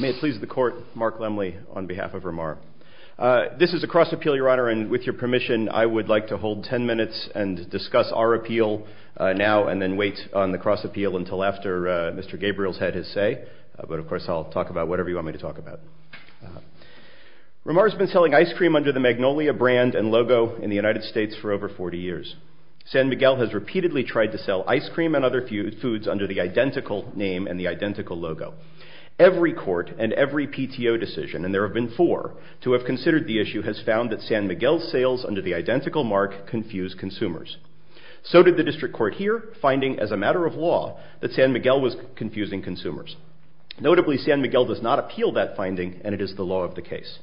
May it please the Court, Mark Lemley on behalf of Ramar. This is a cross-appeal, Your Honor, and with your permission I would like to hold ten minutes and discuss our appeal now and then wait on the cross-appeal until after Mr. Gabriel's had his say, but of course I'll talk about whatever you want me to talk about. Ramar has been selling ice cream under the Magnolia brand and logo in the United States for over 40 years. San Miguel has repeatedly tried to sell ice cream and other foods under the identical name and the identical logo. Every court and every PTO decision, and there have been four, to have considered the issue has found that San Miguel's sales under the identical mark confuse consumers. So did the District Court here, finding as a matter of law that San Miguel was confusing consumers. Notably, San Miguel does not appeal that finding and it is the law of the case.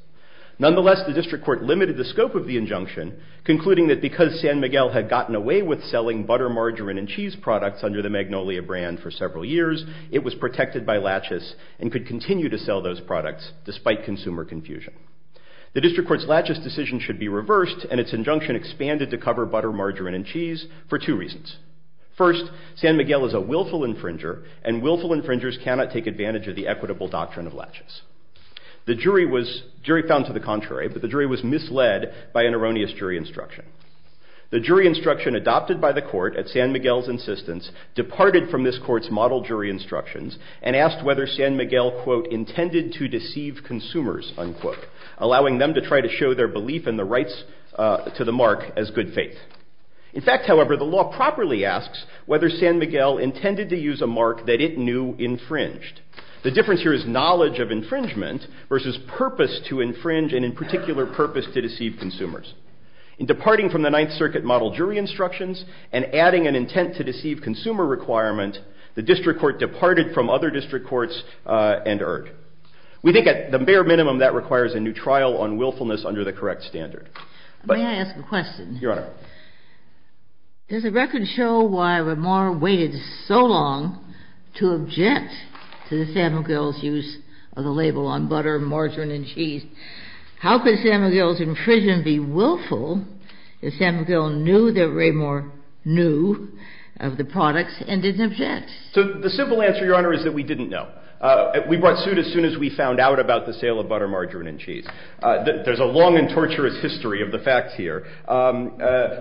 Nonetheless, the District Court limited the scope of the injunction, concluding that because San Miguel had gotten away with selling butter, margarine, and cheese products under the Magnolia brand for several years, it was protected by laches and could continue to sell those products despite consumer confusion. The District Court's laches decision should be reversed and its injunction expanded to cover butter, margarine, and cheese for two reasons. First, San Miguel is a willful infringer and willful infringers cannot take advantage of the equitable doctrine of laches. The jury found to the contrary, but the jury was misled by an erroneous jury instruction. The jury instruction adopted by the court at San Miguel's insistence departed from this court's model jury instructions and asked whether San Miguel, quote, intended to deceive consumers, unquote, allowing them to try to show their belief in the rights to the mark as good faith. In fact, however, the law properly asks whether San Miguel intended to use a mark that it knew infringed. The difference here is knowledge of infringement versus purpose to infringe and in particular purpose to deceive consumers. In departing from the Ninth Circuit model jury instructions and adding an intent to deceive consumer requirement, the District Court departed from other district courts and erred. We think at the bare minimum that requires a new trial on willfulness under the correct standard. May I ask a question? Your Honor. Go ahead. Does the record show why Ramar waited so long to object to the San Miguel's use of the label on butter, margarine, and cheese? How could San Miguel's infringement be willful if San Miguel knew that Ramar knew of the products and didn't object? So the simple answer, Your Honor, is that we didn't know. We brought suit as soon as we found out about the sale of butter, margarine, and cheese. There's a long and torturous history of the facts here.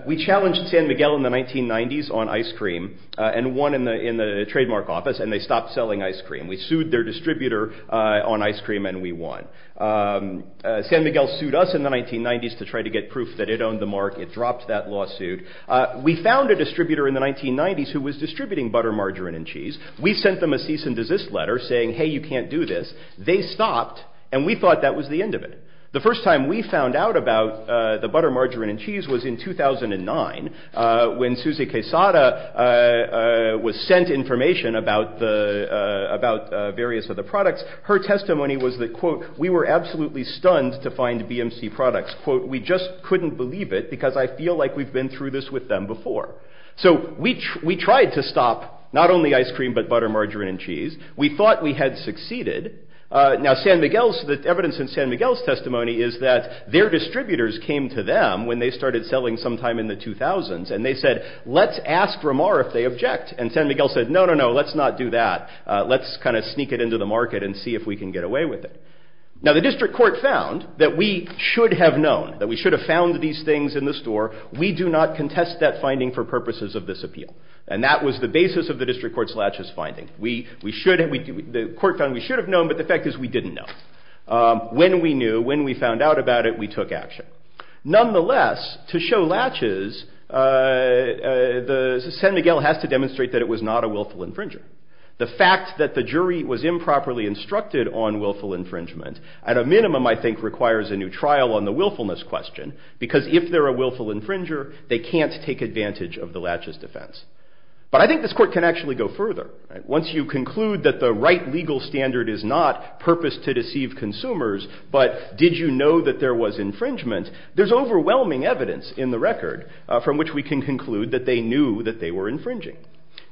We challenged San Miguel in the 1990s on ice cream and won in the trademark office and they stopped selling ice cream. We sued their distributor on ice cream and we won. San Miguel sued us in the 1990s to try to get proof that it owned the mark. It dropped that lawsuit. We found a distributor in the 1990s who was distributing butter, margarine, and cheese. We sent them a cease and desist letter saying, hey, you can't do this. They stopped and we thought that was the end of it. The first time we found out about the butter, margarine, and cheese was in 2009 when Susie Quesada was sent information about various of the products. Her testimony was that, quote, we were absolutely stunned to find BMC products, quote, we just couldn't believe it because I feel like we've been through this with them before. So we tried to stop not only ice cream but butter, margarine, and cheese. We thought we had succeeded. Now San Miguel's, the evidence in San Miguel's testimony is that their distributors came to them when they started selling sometime in the 2000s and they said, let's ask Ramar if they object. And San Miguel said, no, no, no, let's not do that. Let's kind of sneak it into the market and see if we can get away with it. Now the district court found that we should have known, that we should have found these things in the store. We do not contest that finding for purposes of this appeal. And that was the basis of the district court's laches finding. We should have, the court found we should have known but the fact is we didn't know. When we knew, when we found out about it, we took action. Nonetheless, to show laches, San Miguel has to demonstrate that it was not a willful infringer. The fact that the jury was improperly instructed on willful infringement, at a minimum I think requires a new trial on the willfulness question because if they're a willful infringer, they can't take advantage of the laches defense. But I think this court can actually go further. Once you conclude that the right legal standard is not purpose to deceive consumers but did you know that there was infringement, there's overwhelming evidence in the record from which we can conclude that they knew that they were infringing.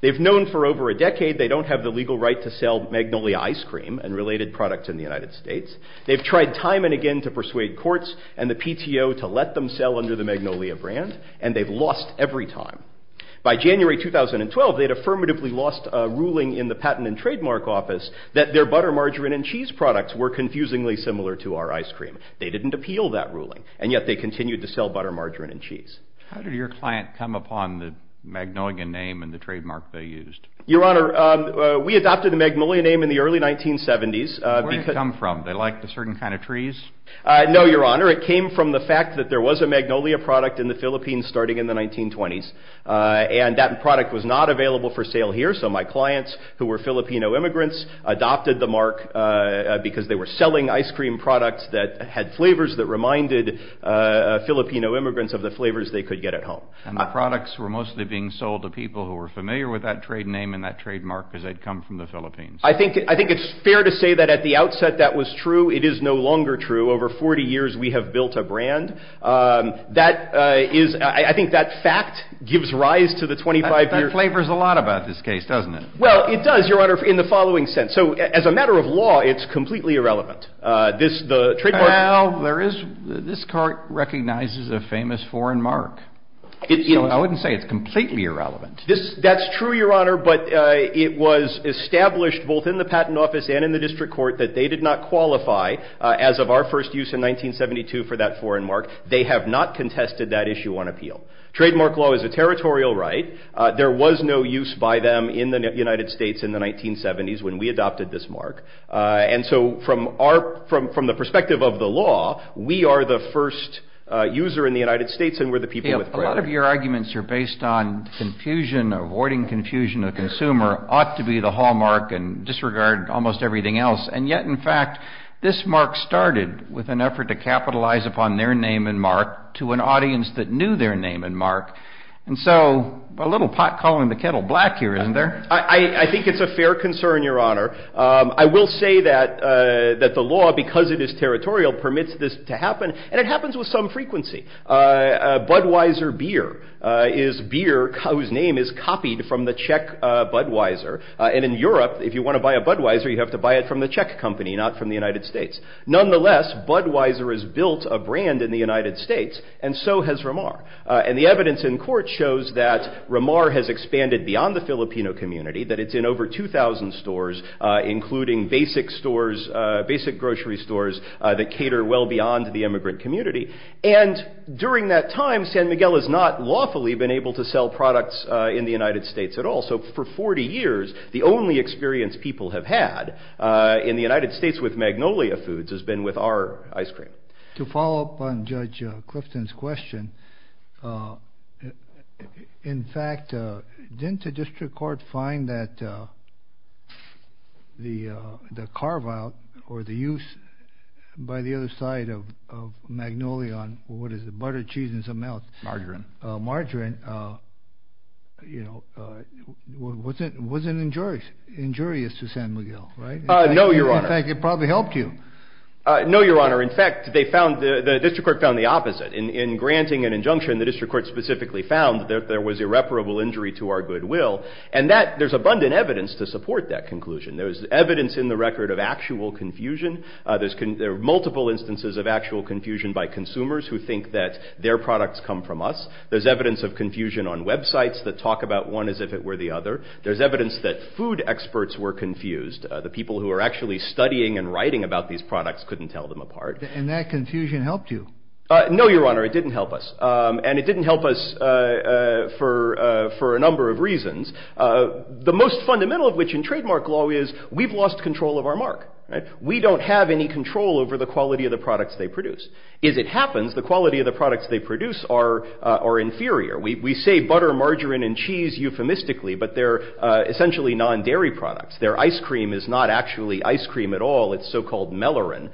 They've known for over a decade they don't have the legal right to sell Magnolia ice cream and related products in the United States. They've tried time and again to persuade courts and the PTO to let them sell under the Magnolia brand and they've lost every time. By January 2012, they'd affirmatively lost a ruling in the Patent and Trademark Office that their butter, margarine and cheese products were confusingly similar to our ice cream. They didn't appeal that ruling and yet they continued to sell butter, margarine and cheese. How did your client come upon the Magnolia name and the trademark they used? Your Honor, we adopted the Magnolia name in the early 1970s. Where did it come from? They liked a certain kind of trees? No, Your Honor, it came from the fact that there was a Magnolia product in the Philippines starting in the 1920s and that product was not available for sale here. So my clients who were Filipino immigrants adopted the mark because they were selling ice cream products that had flavors that reminded Filipino immigrants of the flavors they could get at home. And the products were mostly being sold to people who were familiar with that trade name and that trademark because they'd come from the Philippines? I think it's fair to say that at the outset that was true. Over 40 years, we have built a brand. That is, I think that fact gives rise to the 25-year-old- That flavors a lot about this case, doesn't it? Well, it does, Your Honor, in the following sense. So as a matter of law, it's completely irrelevant. This, the trademark- Well, there is, this court recognizes a famous foreign mark. I wouldn't say it's completely irrelevant. That's true, Your Honor, but it was established both in the patent office and in the district court that they did not qualify, as of our first use in 1972, for that foreign mark. They have not contested that issue on appeal. Trademark law is a territorial right. There was no use by them in the United States in the 1970s when we adopted this mark. And so from our, from the perspective of the law, we are the first user in the United States and we're the people with- A lot of your arguments are based on confusion, avoiding confusion. A consumer ought to be the hallmark and disregard almost everything else. And yet, in fact, this mark started with an effort to capitalize upon their name and mark to an audience that knew their name and mark. And so a little pot calling the kettle black here, isn't there? I think it's a fair concern, Your Honor. I will say that the law, because it is territorial, permits this to happen. And it happens with some frequency. Budweiser beer is beer whose name is copied from the Czech Budweiser. And in Europe, if you want to buy a Budweiser, you have to buy it from the Czech company, not from the United States. Nonetheless, Budweiser has built a brand in the United States and so has Ramar. And the evidence in court shows that Ramar has expanded beyond the Filipino community, that it's in over 2,000 stores, including basic stores, basic grocery stores that cater well beyond the immigrant community. And during that time, San Miguel has not lawfully been able to sell products in the United States at all. So for 40 years, the only experience people have had in the United States with Magnolia foods has been with our ice cream. To follow up on Judge Clifton's question, in fact, didn't the district court find that the carve out or the use by the other side of Magnolia on what is the butter, cheese and something else, margarine, margarine, you know, wasn't injurious, injurious to San Miguel, right? No, Your Honor. In fact, it probably helped you. No, Your Honor. In fact, they found the district court found the opposite. In granting an injunction, the district court specifically found that there was irreparable injury to our goodwill. And that there's abundant evidence to support that conclusion. There's evidence in the record of actual confusion. There's multiple instances of actual confusion by consumers who think that their products come from us. There's evidence of confusion on websites that talk about one as if it were the other. There's evidence that food experts were confused. The people who are actually studying and writing about these products couldn't tell them apart. And that confusion helped you. No, Your Honor, it didn't help us. And it didn't help us for a number of reasons, the most fundamental of which in trademark law is we've lost control of our mark. We don't have any control over the quality of the products they produce. As it happens, the quality of the products they produce are inferior. We say butter, margarine and cheese euphemistically, but they're essentially non-dairy products. Their ice cream is not actually ice cream at all. It's so-called melarin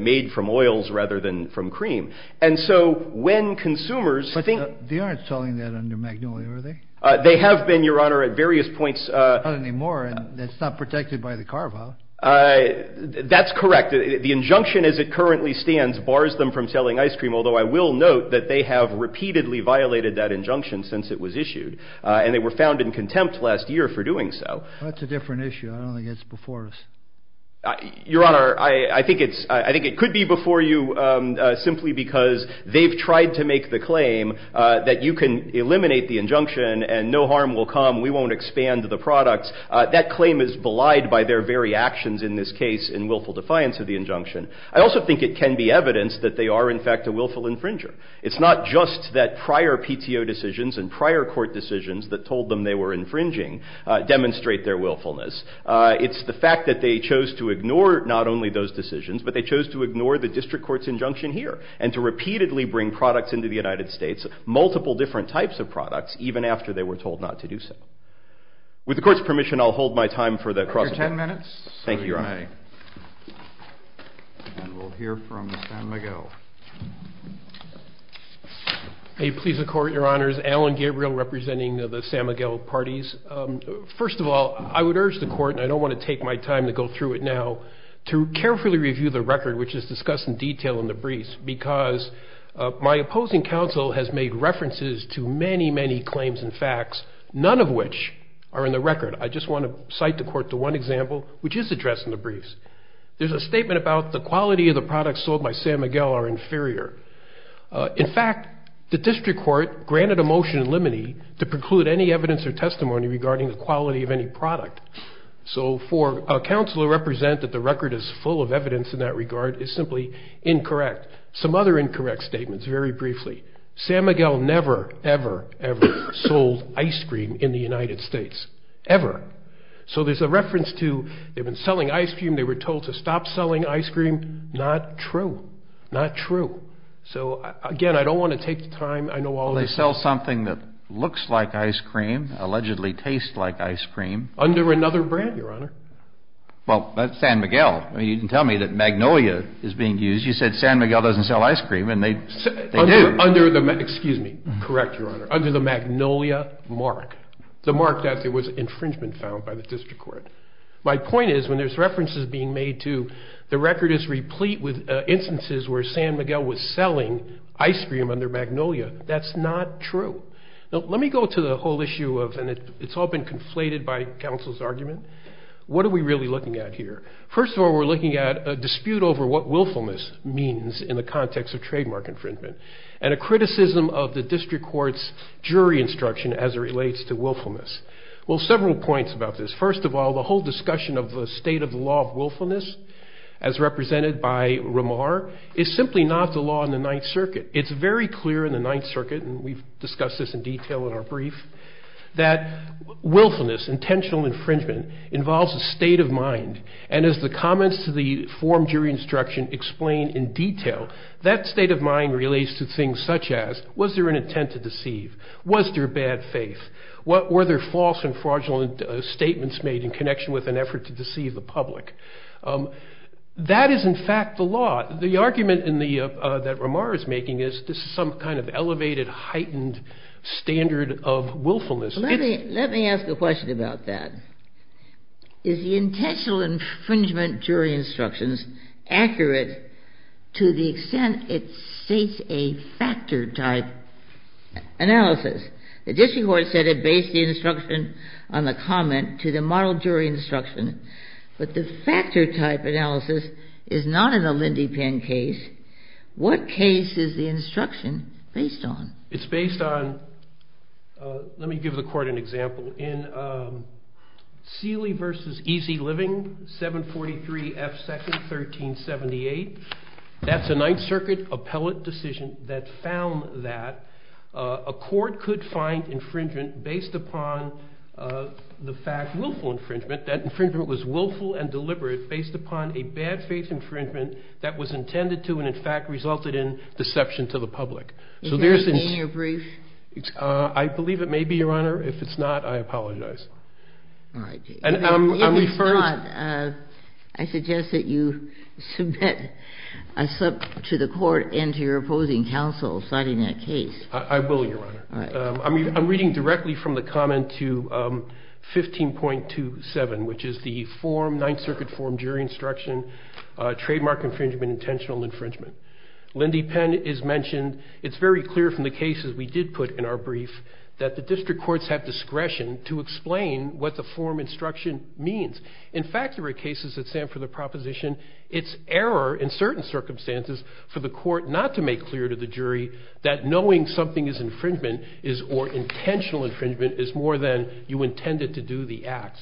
made from oils rather than from cream. And so when consumers think they aren't selling that under Magnolia, are they? They have been, Your Honor, at various points anymore. And that's not protected by the carve out. That's correct. The injunction as it currently stands bars them from selling ice cream, although I will note that they have repeatedly violated that injunction since it was issued and they were found in contempt last year for doing so. That's a different issue. I don't think it's before us. Your Honor, I think it could be before you simply because they've tried to make the claim that you can eliminate the injunction and no harm will come. We won't expand the products. That claim is belied by their very actions in this case in willful defiance of the injunction. I also think it can be evidence that they are, in fact, a willful infringer. It's not just that prior PTO decisions and prior court decisions that told them they were infringing demonstrate their willfulness. It's the fact that they chose to ignore not only those decisions, but they chose to ignore the district court's injunction here and to repeatedly bring products into the United States, multiple different types of products, even after they were told not to do so. With the court's permission, I'll hold my time for the cross. Your 10 minutes. Thank you, Your Honor. And we'll hear from Sam Miguel. May it please the court, Your Honors, Alan Gabriel representing the Sam Miguel parties. First of all, I would urge the court, and I don't want to take my time to go through it now, to carefully review the record, which is discussed in detail in the briefs, because my opposing counsel has made references to many, many claims and facts, none of which are in the record. I just want to cite the court to one example, which is addressed in the briefs. There's a statement about the quality of the products sold by Sam Miguel are inferior. In fact, the district court granted a motion in limine to preclude any evidence or testimony regarding the quality of any product. So for a counsel to represent that the record is full of evidence in that regard is simply incorrect. Some other incorrect statements. Very briefly, Sam Miguel never, ever, ever sold ice cream in the United States, ever. So there's a reference to they've been selling ice cream. They were told to stop selling ice cream. Not true. Not true. So, again, I don't want to take the time. They sell something that looks like ice cream, allegedly tastes like ice cream. Under another brand, Your Honor. Well, that's Sam Miguel. I mean, you can tell me that Magnolia is being used. You said Sam Miguel doesn't sell ice cream and they do. Under the, excuse me, correct, Your Honor, under the Magnolia mark, the mark that there was infringement found by the district court. My point is when there's references being made to the record is replete with instances where Sam Miguel was selling ice cream under Magnolia. That's not true. Now, let me go to the whole issue of, and it's all been conflated by counsel's argument. What are we really looking at here? First of all, we're looking at a dispute over what willfulness means in the context of trademark infringement and a criticism of the district court's jury instruction as it relates to willfulness. Well, several points about this. First of all, the whole discussion of the state of the law of willfulness as represented by Ramar is simply not the law in the Ninth Circuit. It's very clear in the Ninth Circuit, and we've discussed this in detail in our brief, that willfulness, intentional infringement, involves a state of mind. And as the comments to the form jury instruction explain in detail, that state of mind relates to things such as, was there an intent to deceive? Was there bad faith? Were there false and fraudulent statements made in connection with an effort to deceive the public? That is, in fact, the law. The argument that Ramar is making is this is some kind of elevated, heightened standard of willfulness. Let me ask a question about that. Is the intentional infringement jury instructions accurate to the extent it states a factor type analysis? The district court said it based the instruction on the comment to the model jury instruction, but the factor type analysis is not in the Lindypan case. What case is the instruction based on? It's based on, let me give the court an example. In Seeley versus Easy Living, 743 F. 2nd, 1378, that's a Ninth Circuit appellate decision that found that a court could find infringement based upon the fact, willful infringement, that infringement was willful and deliberate based upon a bad faith infringement that was intended to, and in fact, resulted in deception to the public. Is that a mean or brief? I believe it may be, Your Honor. If it's not, I apologize. All right. And I'm referred. If it's not, I suggest that you submit a slip to the court and to your opposing counsel citing that case. I will, Your Honor. I'm reading directly from the comment to 15.27, which is the form, Ninth Circuit form jury instruction, trademark infringement, intentional infringement. Lindypan is mentioned. It's very clear from the cases we did put in our brief that the district courts have discretion to explain what the form instruction means. In fact, there were cases that stand for the proposition, it's error in certain circumstances for the court not to make clear to the jury that knowing something is or intentional infringement is more than you intended to do the act.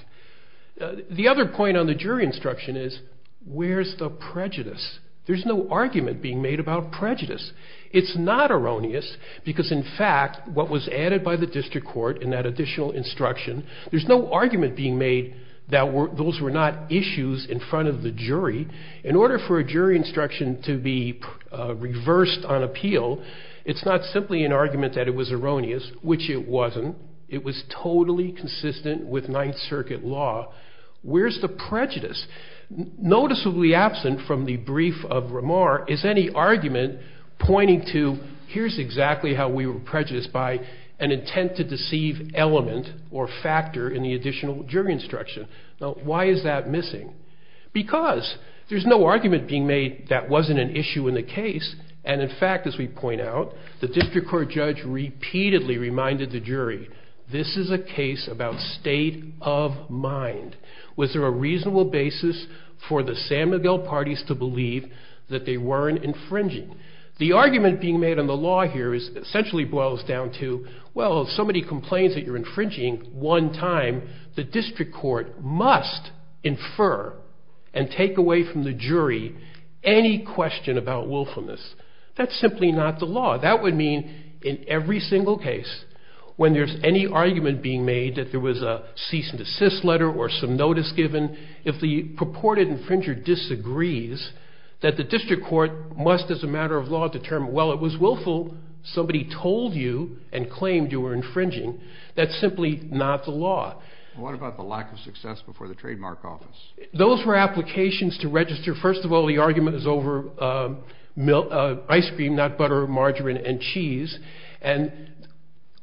The other point on the jury instruction is where's the prejudice? There's no argument being made about prejudice. It's not erroneous because in fact, what was added by the district court in that additional instruction, there's no argument being made that those were not issues in front of the jury. In order for a jury instruction to be reversed on appeal, it's not simply an argument that it was erroneous, which it wasn't. It was totally consistent with Ninth Circuit law. Where's the prejudice? Noticeably absent from the brief of Remar is any argument pointing to here's exactly how we were prejudiced by an intent to deceive element or factor in the additional jury instruction. Now, why is that missing? Because there's no argument being made that wasn't an issue in the case. And in fact, as we point out, the district court judge repeatedly reminded the jury, this is a case about state of mind. Was there a reasonable basis for the San Miguel parties to believe that they weren't infringing? The argument being made on the law here essentially boils down to, well, if somebody complains that you're infringing one time, the district court must infer and take away from the jury any question about willfulness. That's simply not the law. That would mean in every single case, when there's any argument being made that there was a cease and desist letter or some notice given, if the purported infringer disagrees that the district court must, as a matter of law, determine, well, it was willful. Somebody told you and claimed you were infringing. That's simply not the law. What about the lack of success before the trademark office? Those were applications to register. First of all, the argument is over ice cream, not butter, margarine, and cheese. And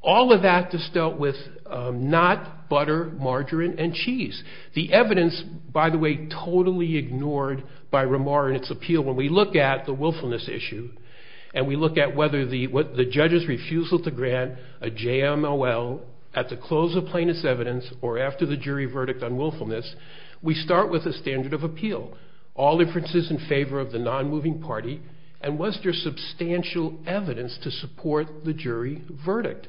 all of that is dealt with not butter, margarine, and cheese. The evidence, by the way, totally ignored by Ramar in its appeal. When we look at the willfulness issue and we look at whether the judge's refusal to grant a JMLL at the close of plaintiff's evidence or after the jury verdict on the case, we start with a standard of appeal. All inferences in favor of the non-moving party. And was there substantial evidence to support the jury verdict?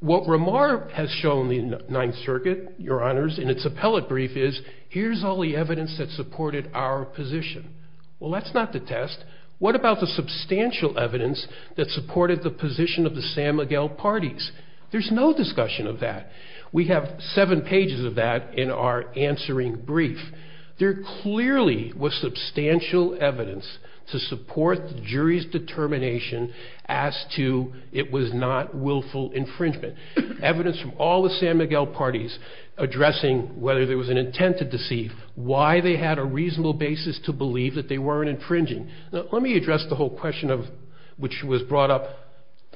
What Ramar has shown in Ninth Circuit, your honors, in its appellate brief is, here's all the evidence that supported our position. Well, that's not the test. What about the substantial evidence that supported the position of the San Miguel parties? There's no discussion of that. We have seven pages of that in our answering brief. There clearly was substantial evidence to support the jury's determination as to it was not willful infringement. Evidence from all the San Miguel parties addressing whether there was an intent to deceive, why they had a reasonable basis to believe that they weren't infringing. Now, let me address the whole question of, which was brought up,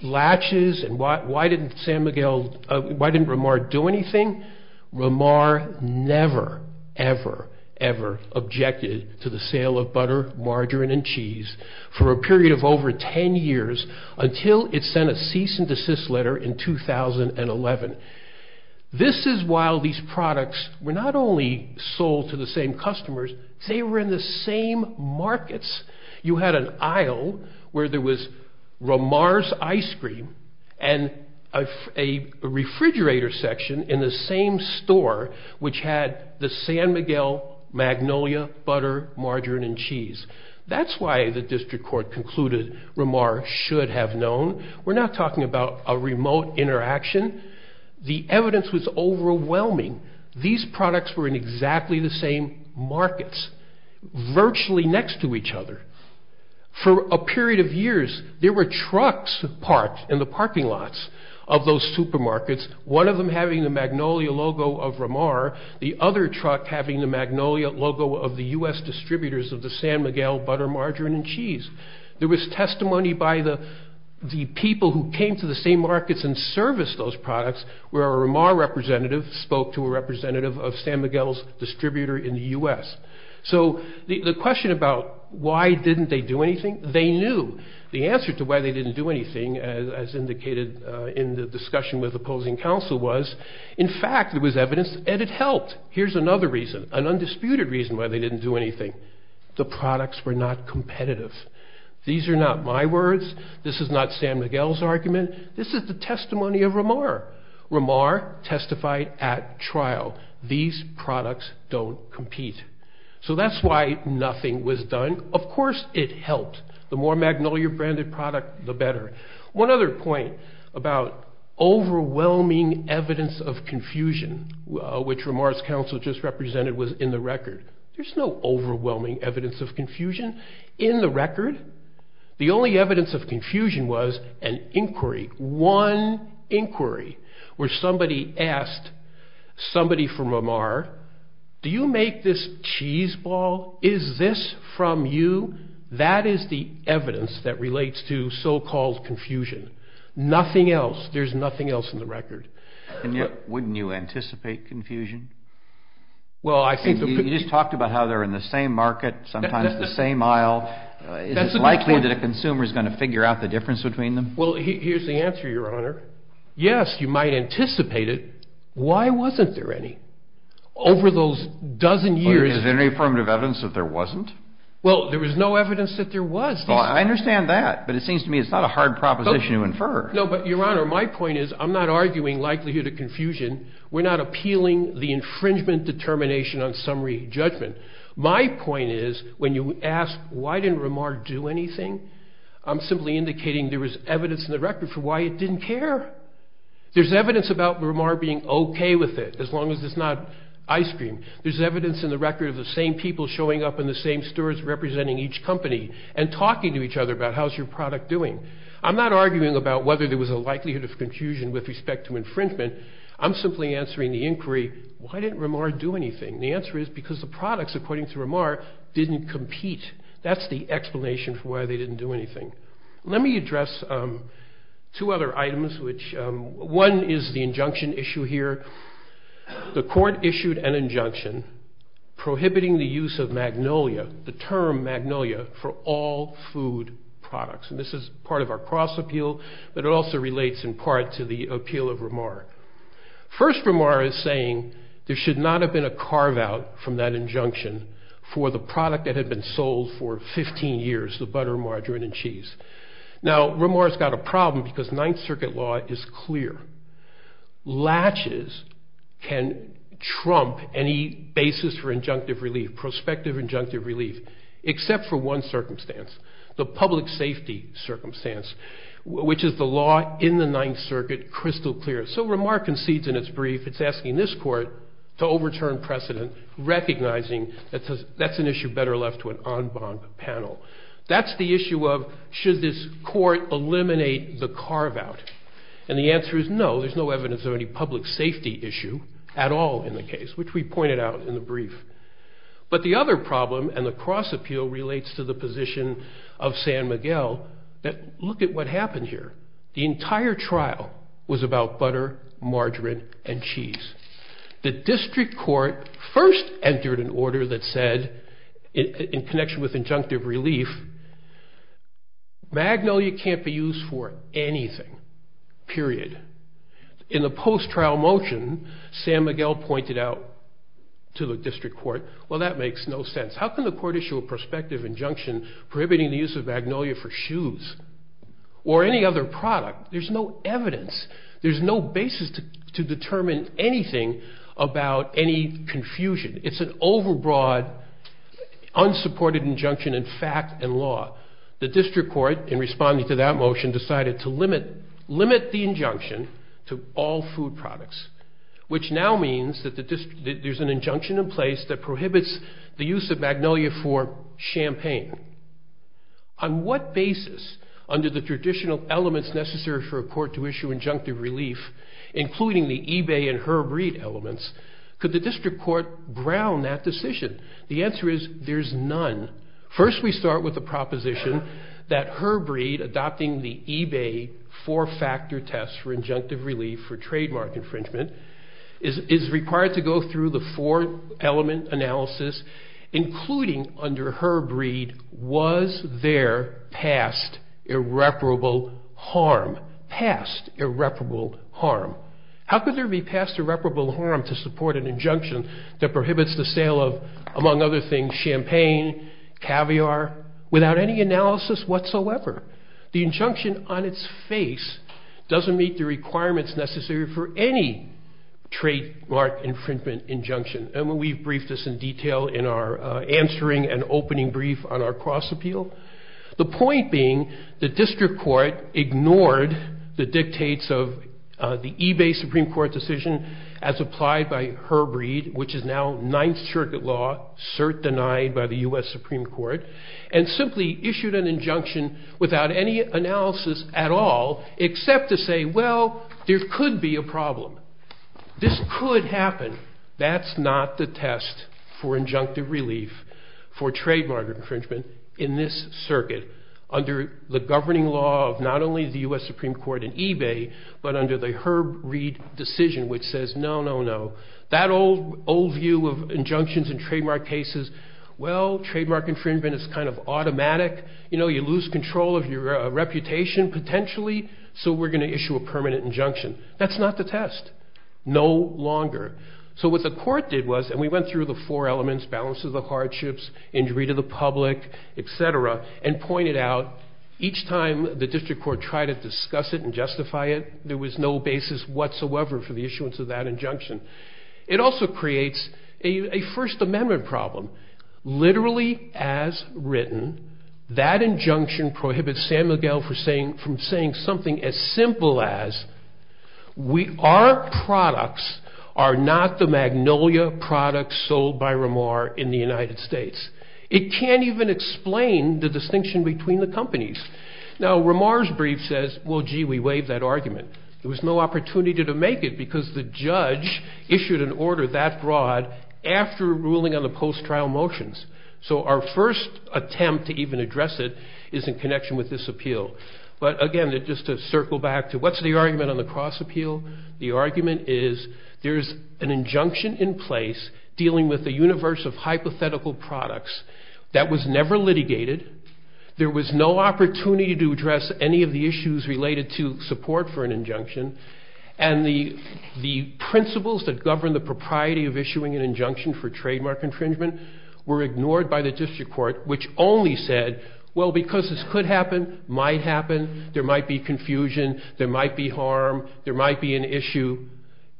latches and why didn't San Miguel, why didn't Ramar do anything? Ramar never, ever, ever objected to the sale of butter, margarine and cheese for a period of over 10 years until it sent a cease and desist letter in 2011. This is while these products were not only sold to the same customers, they were in the same markets. You had an aisle where there was Ramar's ice cream and a refrigerator section in the same store, which had the San Miguel, magnolia, butter, margarine and cheese. That's why the district court concluded Ramar should have known. We're not talking about a remote interaction. The evidence was overwhelming. These products were in exactly the same markets, virtually next to each other. For a period of years, there were trucks parked in the parking lots of those markets, having the magnolia logo of Ramar, the other truck having the magnolia logo of the U.S. distributors of the San Miguel butter, margarine and cheese. There was testimony by the people who came to the same markets and serviced those products, where a Ramar representative spoke to a representative of San Miguel's distributor in the U.S. So the question about why didn't they do anything, they knew. The answer to why they didn't do anything, as indicated in the discussion with the distributors, was that there was evidence that they didn't do anything. In fact, there was evidence and it helped. Here's another reason, an undisputed reason why they didn't do anything. The products were not competitive. These are not my words. This is not San Miguel's argument. This is the testimony of Ramar. Ramar testified at trial. These products don't compete. So that's why nothing was done. Of course it helped. The more magnolia branded product, the better. But there's no evidence of confusion, which Ramar's counsel just represented was in the record. There's no overwhelming evidence of confusion in the record. The only evidence of confusion was an inquiry, one inquiry, where somebody asked somebody from Ramar, do you make this cheese ball? Is this from you? That is the evidence that relates to so-called confusion. Nothing else. There's nothing else in the record. And yet, wouldn't you anticipate confusion? Well, I think you just talked about how they're in the same market, sometimes the same aisle. Is it likely that a consumer is going to figure out the difference between them? Well, here's the answer, Your Honor. Yes, you might anticipate it. Why wasn't there any? Over those dozen years. Is there any affirmative evidence that there wasn't? Well, there was no evidence that there was. I understand that. But it seems to me it's not a hard proposition to infer. No, but Your Honor, my point is, I'm not arguing likelihood of confusion. We're not appealing the infringement determination on summary judgment. My point is, when you ask why didn't Ramar do anything, I'm simply indicating there was evidence in the record for why it didn't care. There's evidence about Ramar being okay with it, as long as it's not ice cream. There's evidence in the record of the same people showing up in the same stores representing each company and talking to each other about how's your product doing. I'm not arguing about whether there was a likelihood of confusion with respect to infringement. I'm simply answering the inquiry, why didn't Ramar do anything? The answer is because the products, according to Ramar, didn't compete. That's the explanation for why they didn't do anything. Let me address two other items, which one is the injunction issue here. The court issued an injunction prohibiting the use of magnolia, the term magnolia, for all food products. And this is part of our cross appeal, but it also relates in part to the appeal of Ramar. First, Ramar is saying there should not have been a carve-out from that injunction for the product that had been sold for 15 years, the butter, margarine, and cheese. Now, Ramar's got a problem because Ninth Circuit law is clear. Latches can trump any basis for injunctive relief, prospective injunctive relief, except for one circumstance, the public safety circumstance, which is the law in the Ninth Circuit, crystal clear. So Ramar concedes in its brief, it's asking this court to overturn precedent, recognizing that that's an issue better left to an en banc panel. That's the issue of should this court eliminate the carve-out. And the answer is no, there's no evidence of any public safety issue at all in the case, which we pointed out in the brief. But the other problem and the cross appeal relates to the position of San Miguel that look at what happened here. The entire trial was about butter, margarine, and cheese. The district court first entered an order that said, in connection with injunctive relief, magnolia can't be used for anything, period. In the post-trial motion, San Miguel pointed out to the district court, well, that makes no sense, how can the court issue a prospective injunction prohibiting the use of magnolia for shoes or any other product? There's no evidence, there's no basis to determine anything about any confusion. It's an overbroad, unsupported injunction in fact and law. The district court, in responding to that motion, decided to limit the injunction to all food products, which now means that there's an injunction in place that prohibits the use of magnolia for champagne. On what basis, under the traditional elements necessary for a court to issue injunctive relief, including the eBay and Herb Reed elements, could the district court brown that decision? The answer is there's none. First, we start with the proposition that Herb Reed, adopting the eBay four-factor test for injunctive relief for trademark infringement, is required to go through the four-element analysis, including under Herb Reed, was there past irreparable harm, past irreparable harm? How could there be past irreparable harm to support an injunction that prohibits the sale of, among other things, champagne, caviar, without any analysis whatsoever? The injunction on its face doesn't meet the requirements necessary for any trademark infringement injunction. And we've briefed this in detail in our answering and opening brief on our cross-appeal. The point being, the district court ignored the dictates of the eBay Supreme Court decision as applied by Herb Reed, which is now Ninth Circuit law, cert denied by the U.S. Supreme Court, and simply issued an injunction without any analysis at all, except to say, well, there could be a problem. This could happen. That's not the test for injunctive relief for trademark infringement in this circuit under the governing law of not only the U.S. Supreme Court and eBay, but under the Herb Reed decision, which says, no, no, no. That old view of injunctions in trademark cases, well, trademark infringement is kind of automatic. You know, you lose control of your reputation, potentially, so we're going to issue a permanent injunction. That's not the test. No longer. So what the court did was, and we went through the four elements, balance of the hardships, injury to the public, et cetera, and pointed out, each time the district court tried to discuss it and justify it, there was no basis whatsoever for the issuance of that injunction. It also creates a First Amendment problem. Literally as written, that injunction prohibits San Miguel from saying something as simple as our products are not the Magnolia products sold by Ramar in the United States. It can't even explain the distinction between the companies. Now, Ramar's brief says, well, gee, we waived that argument. There was no opportunity to make it because the judge issued an order that broad after ruling on the post-trial motions. So our first attempt to even address it is in connection with this appeal. But again, just to circle back to what's the argument on the cross-appeal? The argument is there's an injunction in place dealing with a universe of hypothetical products that was never litigated. There was no opportunity to address any of the issues related to support for an injunction. And the principles that govern the propriety of issuing an injunction for trademark infringement were ignored by the district court, which only said, well, because this could happen, might happen, there might be confusion, there might be harm, there might be an issue,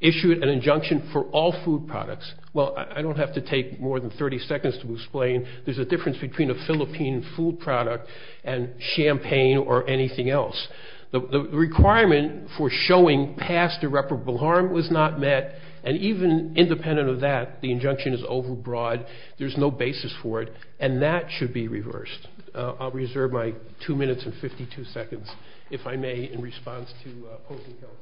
issue an injunction for all food products. Well, I don't have to take more than 30 seconds to explain there's a difference between a Philippine food product and champagne or anything else. The requirement for showing past irreparable harm was not met, and even independent of that, the injunction is overbroad, there's no basis for it, and that should be reversed. I'll reserve my two minutes and 52 seconds, if I may, in response to opposing counsel.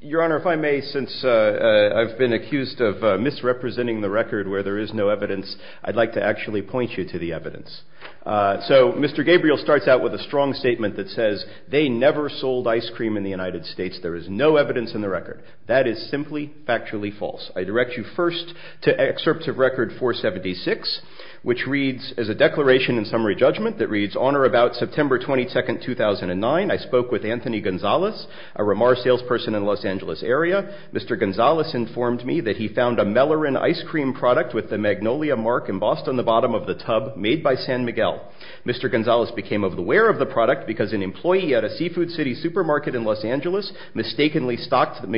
Your Honor, if I may, since I've been accused of misrepresenting the record where there is no evidence, I'd like to actually point you to the evidence. So, Mr. Gabriel starts out with a strong statement that says, they never sold ice cream in the United States, there is no evidence in the record. That is simply factually false. I direct you first to excerpt of record 476, which reads as a declaration in summary judgment that reads, on or about September 22nd, 2009, I spoke with Anthony Gonzalez, a Ramar salesperson in Los Angeles area. Mr. Gonzalez informed me that he found a Mellorin ice cream product with the Magnolia mark embossed on the bottom of the tub made by San Miguel. Mr. Gonzalez became aware of the product because an employee at a Seafood City supermarket in Los Angeles mistakenly stocked San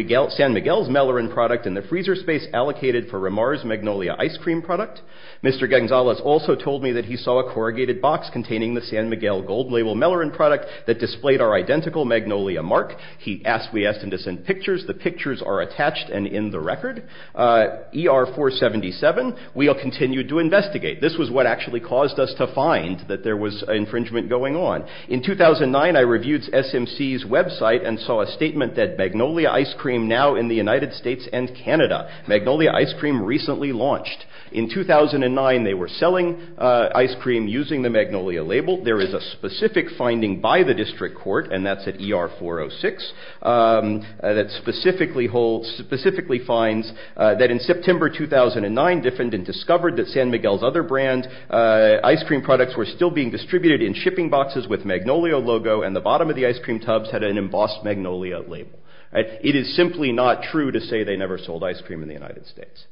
Miguel's Mellorin product in the freezer space allocated for Ramar's Magnolia ice cream product. Mr. Gonzalez also told me that he saw a corrugated box containing the San Miguel gold label Mellorin product that displayed our identical Magnolia mark. He asked, we asked him to send pictures. The pictures are attached and in the record. ER 477, we'll continue to investigate. This was what actually caused us to find that there was infringement going on. In 2009, I reviewed SMC's website and saw a statement that Magnolia ice cream now in the United States and Canada, Magnolia ice cream recently launched. In 2009, they were selling ice cream using the Magnolia label. There is a specific finding by the district court and that's at ER 406 that specifically holds, specifically finds that in September 2009, defendant discovered that San Miguel's other brand ice cream products were still being distributed in shipping boxes with Magnolia logo and the bottom of the ice cream tubs had an embossed Magnolia label. It is simply not true to say they never sold ice cream in the United States.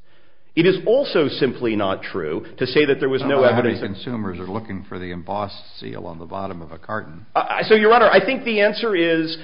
It is also simply not true to say that there was no evidence. Consumers are looking for the embossed seal on the bottom of a carton. So, your honor, I think the answer is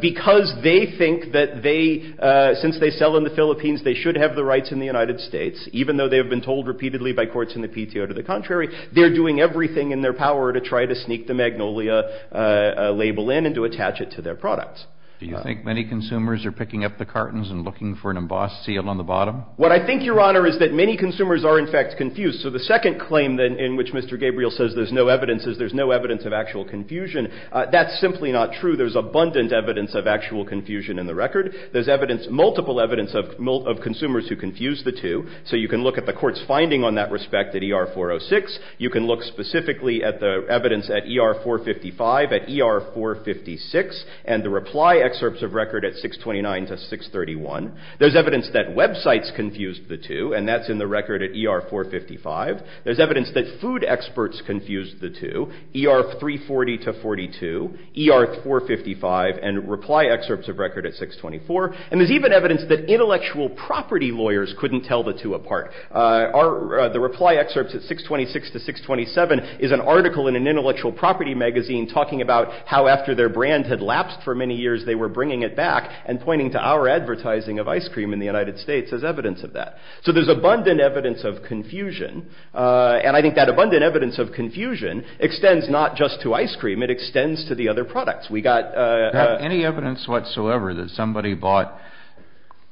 because they think that they, since they sell in the Philippines, they should have the rights in the United States, even though they have been told repeatedly by courts in the PTO to the contrary. They're doing everything in their power to try to sneak the Magnolia label in and to attach it to their products. Do you think many consumers are picking up the cartons and looking for an embossed seal on the bottom? What I think, your honor, is that many consumers are, in fact, confused. So, the second claim in which Mr. Gabriel says there's no evidence is there's no evidence of actual confusion, that's simply not true. There's abundant evidence of actual confusion in the record. There's evidence, multiple evidence of consumers who confuse the two. So, you can look at the court's finding on that respect at ER 406. You can look specifically at the evidence at ER 455, at ER 456, and the reply excerpts of record at 629 to 631. There's evidence that websites confused the two, and that's in the record at ER 455. There's evidence that food experts confused the two, ER 340 to 42, ER 455, and reply excerpts of record at 624. And there's even evidence that intellectual property lawyers couldn't tell the two apart. The reply excerpts at 626 to 627 is an article in an intellectual property magazine talking about how after their brand had lapsed for many years, they were bringing it back and pointing to our advertising of ice cream in the United States as evidence of that. So, there's abundant evidence of confusion, and I think that abundant evidence of confusion extends not just to ice cream, it extends to the other products. We got a- Any evidence whatsoever that somebody bought,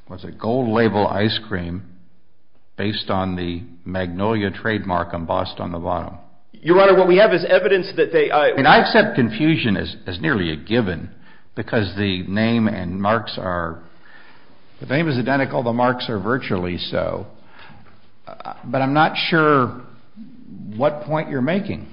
what's it, gold label ice cream based on the Magnolia trademark embossed on the bottom? Your Honor, what we have is evidence that they- I mean, I accept confusion as nearly a given because the name and marks are-the name is identical, the marks are virtually so, but I'm not sure what point you're making.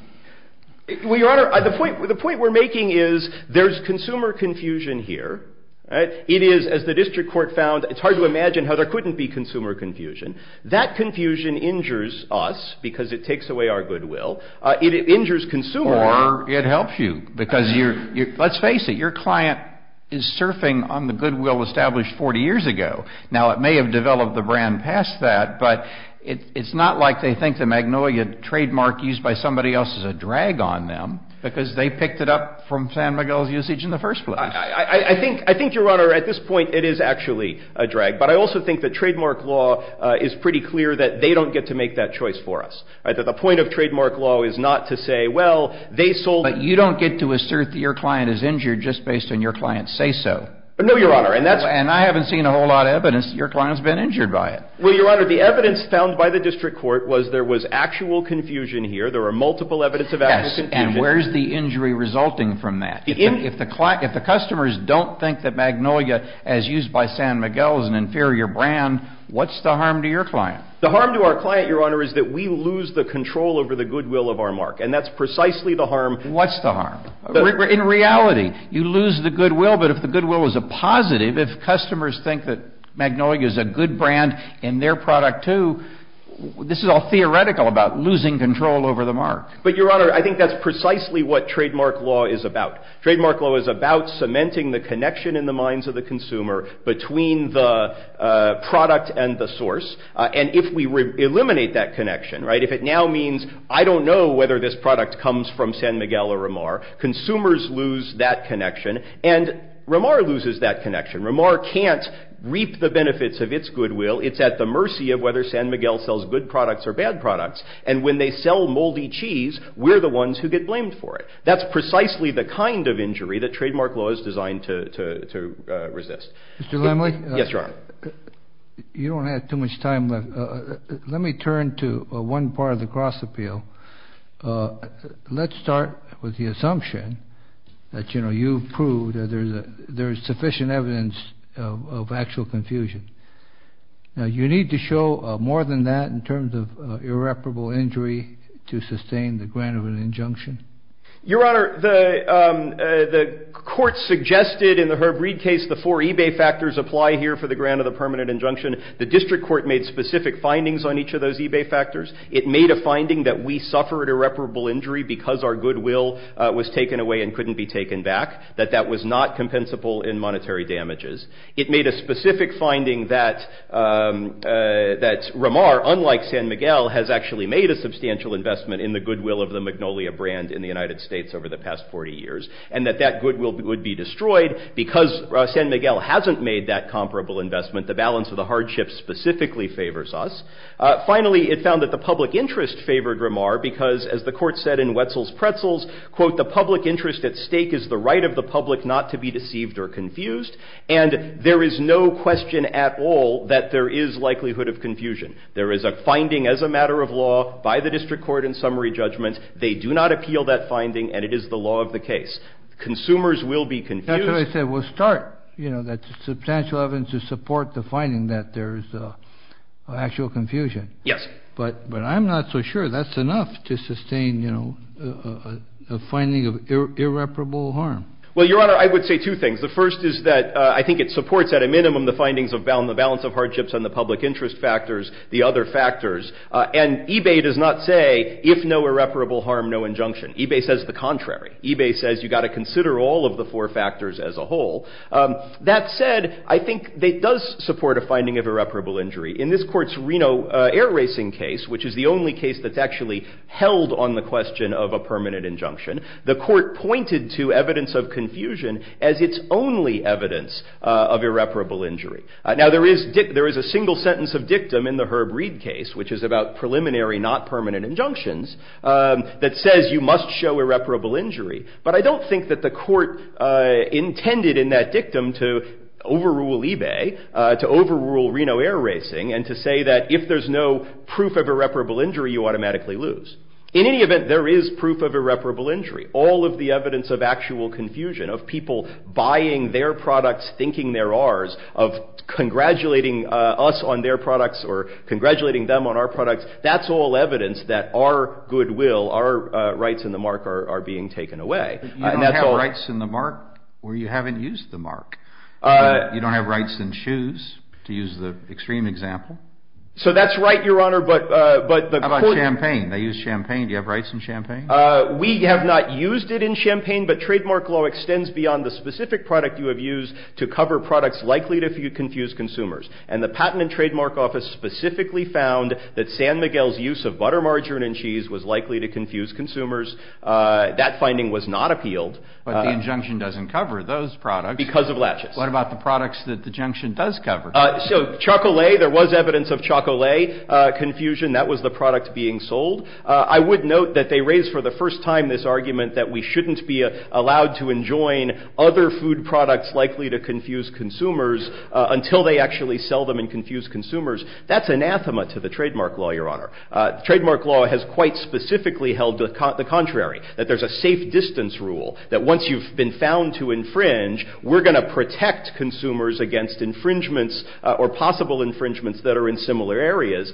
Well, Your Honor, the point we're making is there's consumer confusion here, right? It is, as the district court found, it's hard to imagine how there couldn't be consumer confusion. That confusion injures us because it takes away our goodwill. It injures consumers- Or it helps you because you're-let's face it, your client is surfing on the goodwill established 40 years ago. Now, it may have developed the brand past that, but it's not like they think the Magnolia trademark used by somebody else is a drag on them because they picked it up from San Miguel's usage in the first place. I think, Your Honor, at this point, it is actually a drag, but I also think that trademark law is pretty clear that they don't get to make that choice for us, right? That the point of trademark law is not to say, well, they sold- But you don't get to assert that your client is injured just based on your client's say-so. No, Your Honor, and that's- And I haven't seen a whole lot of evidence that your client's been injured by it. Well, Your Honor, the evidence found by the district court was there was actual confusion here. There were multiple evidence of actual confusion. Yes, and where's the injury resulting from that? If the customers don't think that Magnolia, as used by San Miguel, is an inferior brand, what's the harm to your client? The harm to our client, Your Honor, is that we lose the control over the goodwill of our mark, and that's precisely the harm- What's the harm? In reality, you lose the goodwill, but if the goodwill is a positive, if customers think that Magnolia is a good brand and their product, too, this is all theoretical about losing control over the mark. But, Your Honor, I think that's precisely what trademark law is about. Trademark law is about cementing the connection in the minds of the consumer between the product and the source, and if we eliminate that connection, right, if it now means, I don't know whether this product comes from San Miguel or Ramar, consumers lose that connection, and Ramar loses that connection. Ramar can't reap the benefits of its goodwill. It's at the mercy of whether San Miguel sells good products or bad products, and when they sell moldy cheese, we're the ones who get blamed for it. That's precisely the kind of injury that trademark law is designed to resist. Mr. Laemmle? Yes, Your Honor. You don't have too much time left. Let me turn to one part of the cross-appeal. Let's start with the assumption that, you know, you've proved that there's sufficient evidence of actual confusion. Now, you need to show more than that in terms of irreparable injury to sustain the grant of an injunction? Your Honor, the court suggested in the Herb Reid case the four eBay factors apply here for the grant of the permanent injunction. The district court made specific findings on each of those eBay factors. It made a finding that we suffered irreparable injury because our goodwill was taken away and couldn't be taken back, that that was not compensable in monetary damages. It made a specific finding that Ramar, unlike San Miguel, has actually made a substantial investment in the goodwill of the Magnolia brand in the United States over the past 40 years, and that that goodwill would be destroyed. Because San Miguel hasn't made that comparable investment, the balance of the hardship specifically favors us. Finally, it found that the public interest favored Ramar because, as the court said in Wetzel's Pretzels, quote, the public interest at stake is the right of the public not to be deceived or confused. And there is no question at all that there is likelihood of confusion. There is a finding as a matter of law by the district court in summary judgment. They do not appeal that finding, and it is the law of the case. Consumers will be confused. That's what I said. We'll start, you know, that substantial evidence to support the finding that there is actual confusion. Yes. But I'm not so sure that's enough to sustain, you know, a finding of irreparable harm. Well, Your Honor, I would say two things. The first is that I think it supports at a minimum the findings of the balance of hardships and the public interest factors. The other factors. And eBay does not say if no irreparable harm, no injunction. eBay says the contrary. eBay says you've got to consider all of the four factors as a whole. That said, I think it does support a finding of irreparable injury. In this court's Reno Air Racing case, which is the only case that's actually held on the question of a permanent injunction, the court pointed to evidence of confusion as its only evidence of irreparable injury. Now, there is a single sentence of dictum in the Herb Reid case, which is about preliminary, not permanent injunctions, that says you must show irreparable injury. But I don't think that the court intended in that dictum to overrule eBay, to overrule Reno Air Racing, and to say that if there's no proof of irreparable injury, you automatically lose. In any event, there is proof of irreparable injury. All of the evidence of actual confusion, of people buying their products, thinking they're ours, of congratulating us on their products or congratulating them on our products, that's all evidence that our goodwill, our rights in the mark are being taken away. You don't have rights in the mark where you haven't used the mark. You don't have rights in shoes, to use the extreme example. So that's right, Your Honor, but the court... How about champagne? They use champagne. Do you have rights in champagne? We have not used it in champagne, but trademark law extends beyond the specific product you have used to cover products likely to confuse consumers. And the Patent and Trademark Office specifically found that San Miguel's use of butter, margarine and cheese was likely to confuse consumers. That finding was not appealed. But the injunction doesn't cover those products. Because of latches. What about the products that the injunction does cover? So, chocolate, there was evidence of chocolate confusion. That was the product being sold. I would note that they raised for the first time this argument that we shouldn't be allowed to enjoin other food products likely to confuse consumers until they actually sell them and confuse consumers. That's anathema to the trademark law, Your Honor. Trademark law has quite specifically held the contrary, that there's a safe distance rule, that once you've been found to infringe, we're going to protect consumers against infringements or possible infringements that are in similar areas.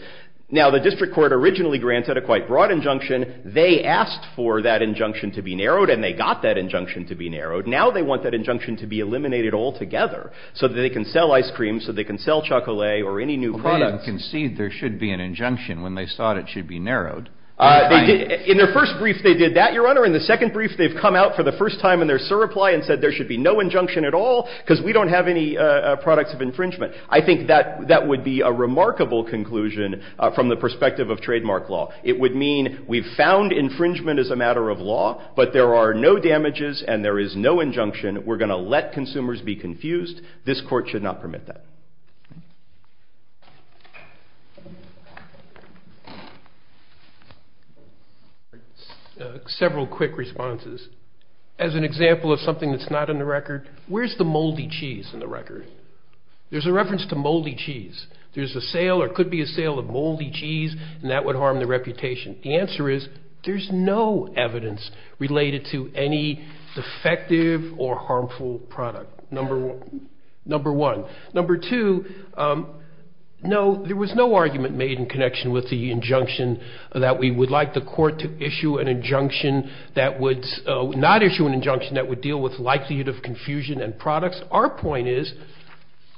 Now, the district court originally granted a quite broad injunction. They asked for that injunction to be narrowed and they got that injunction to be narrowed. Now, they want that injunction to be eliminated altogether so that they can sell ice cream, so they can sell chocolate or any new product. Well, they conceded there should be an injunction when they thought it should be narrowed. In their first brief, they did that, Your Honor. In the second brief, they've come out for the first time in their SIR reply and said there should be no injunction at all because we don't have any products of infringement. I think that would be a remarkable conclusion from the perspective of trademark law. It would mean we've found infringement as a matter of law, but there are no damages and there is no injunction, we're going to let consumers be confused. This court should not permit that. Several quick responses. As an example of something that's not in the record, where's the moldy cheese in the record? There's a reference to moldy cheese. There's a sale or could be a sale of moldy cheese and that would harm the reputation. The answer is there's no evidence related to any defective or harmful product, number one. Number two, no, there was no argument made in connection with the injunction that we would like the court to issue an injunction that would not issue an injunction that would deal with likelihood of confusion and products. Our point is,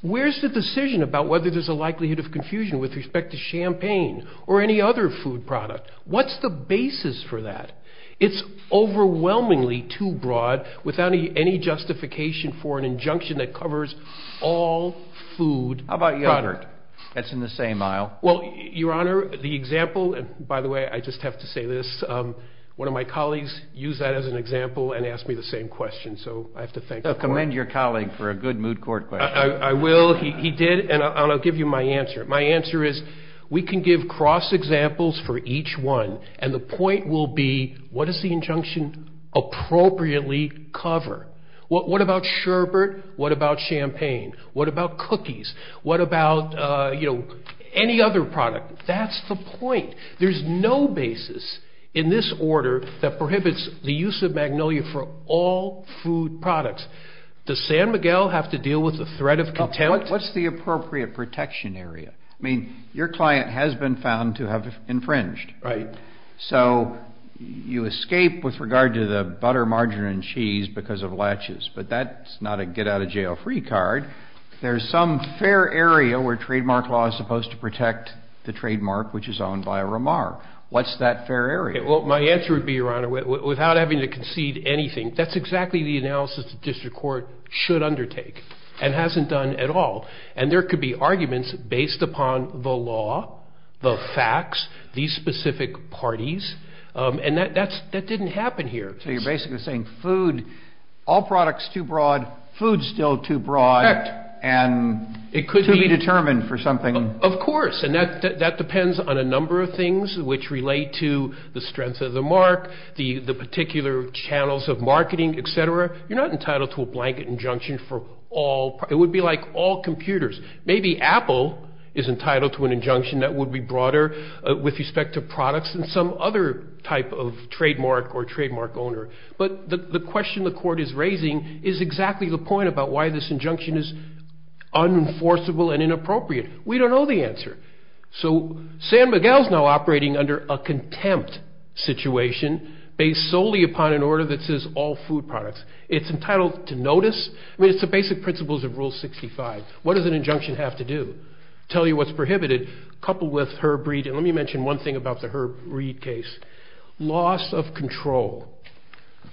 where's the decision about whether there's a likelihood of confusion with respect to champagne or any other food product? What's the basis for that? It's overwhelmingly too broad without any justification for an injunction that covers all food. How about yogurt? That's in the same aisle. Well, Your Honor, the example, and by the way, I just have to say this, one of my colleagues used that as an example and asked me the same question, so I have to thank the court. I commend your colleague for a good mood court question. I will, he did, and I'll give you my answer. My answer is we can give cross examples for each one and the point will be, what does the injunction appropriately cover? What about sherbet? What about champagne? What about cookies? What about, you know, any other product? That's the point. There's no basis in this order that prohibits the use of magnolia for all food products. Does San Miguel have to deal with the threat of contempt? What's the appropriate protection area? I mean, your client has been found to have infringed. Right. So you escape with regard to the butter, margarine, and cheese because of latches, but that's not a get out of jail free card. There's some fair area where trademark law is supposed to protect the trademark which is owned by a ramar. What's that fair area? Well, my answer would be, Your Honor, without having to concede anything, that's exactly the analysis the district court should undertake and hasn't done at all. And there could be arguments based upon the law, the facts, these specific parties, and that didn't happen here. So you're basically saying food, all products too broad, food still too broad. Correct. And it could be determined for something. Of course. And that depends on a number of things which relate to the strength of the mark, the particular channels of marketing, etc. You're not entitled to a blanket injunction for all, it would be like all computers. Maybe Apple is entitled to an injunction that would be broader with respect to products and some other type of trademark or trademark owner. But the question the court is raising is exactly the point about why this injunction is unenforceable and inappropriate. We don't know the answer. So San Miguel is now operating under a contempt situation based solely upon an order that says all food products. It's entitled to notice. I mean, it's the basic principles of Rule 65. What does an injunction have to do? Tell you what's prohibited, coupled with Herb Reed. And let me mention one thing about the Herb Reed case. Loss of control.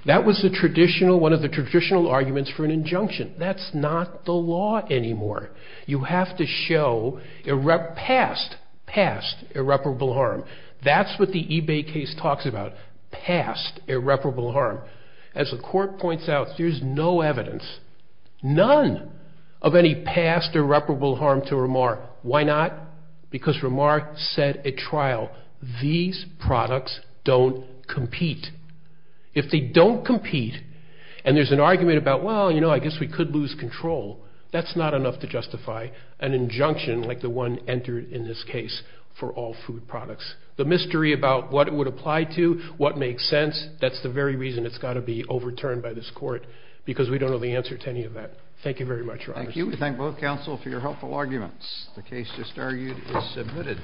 That was the traditional, one of the traditional arguments for an injunction. That's not the law anymore. You have to show past, past irreparable harm. That's what the eBay case talks about, past irreparable harm. As the court points out, there's no evidence, none of any past irreparable harm to Ramar. Why not? Because Ramar said at trial, these products don't compete. If they don't compete and there's an argument about, well, you know, I guess we could lose control, that's not enough to justify an injunction like the one entered in this case for all food products. The mystery about what it would apply to, what makes sense, that's the very reason it's got to be overturned by this court, because we don't know the answer to any of that. Thank you very much, Your Honor. Thank you. We thank both counsel for your helpful arguments. The case just argued is submitted.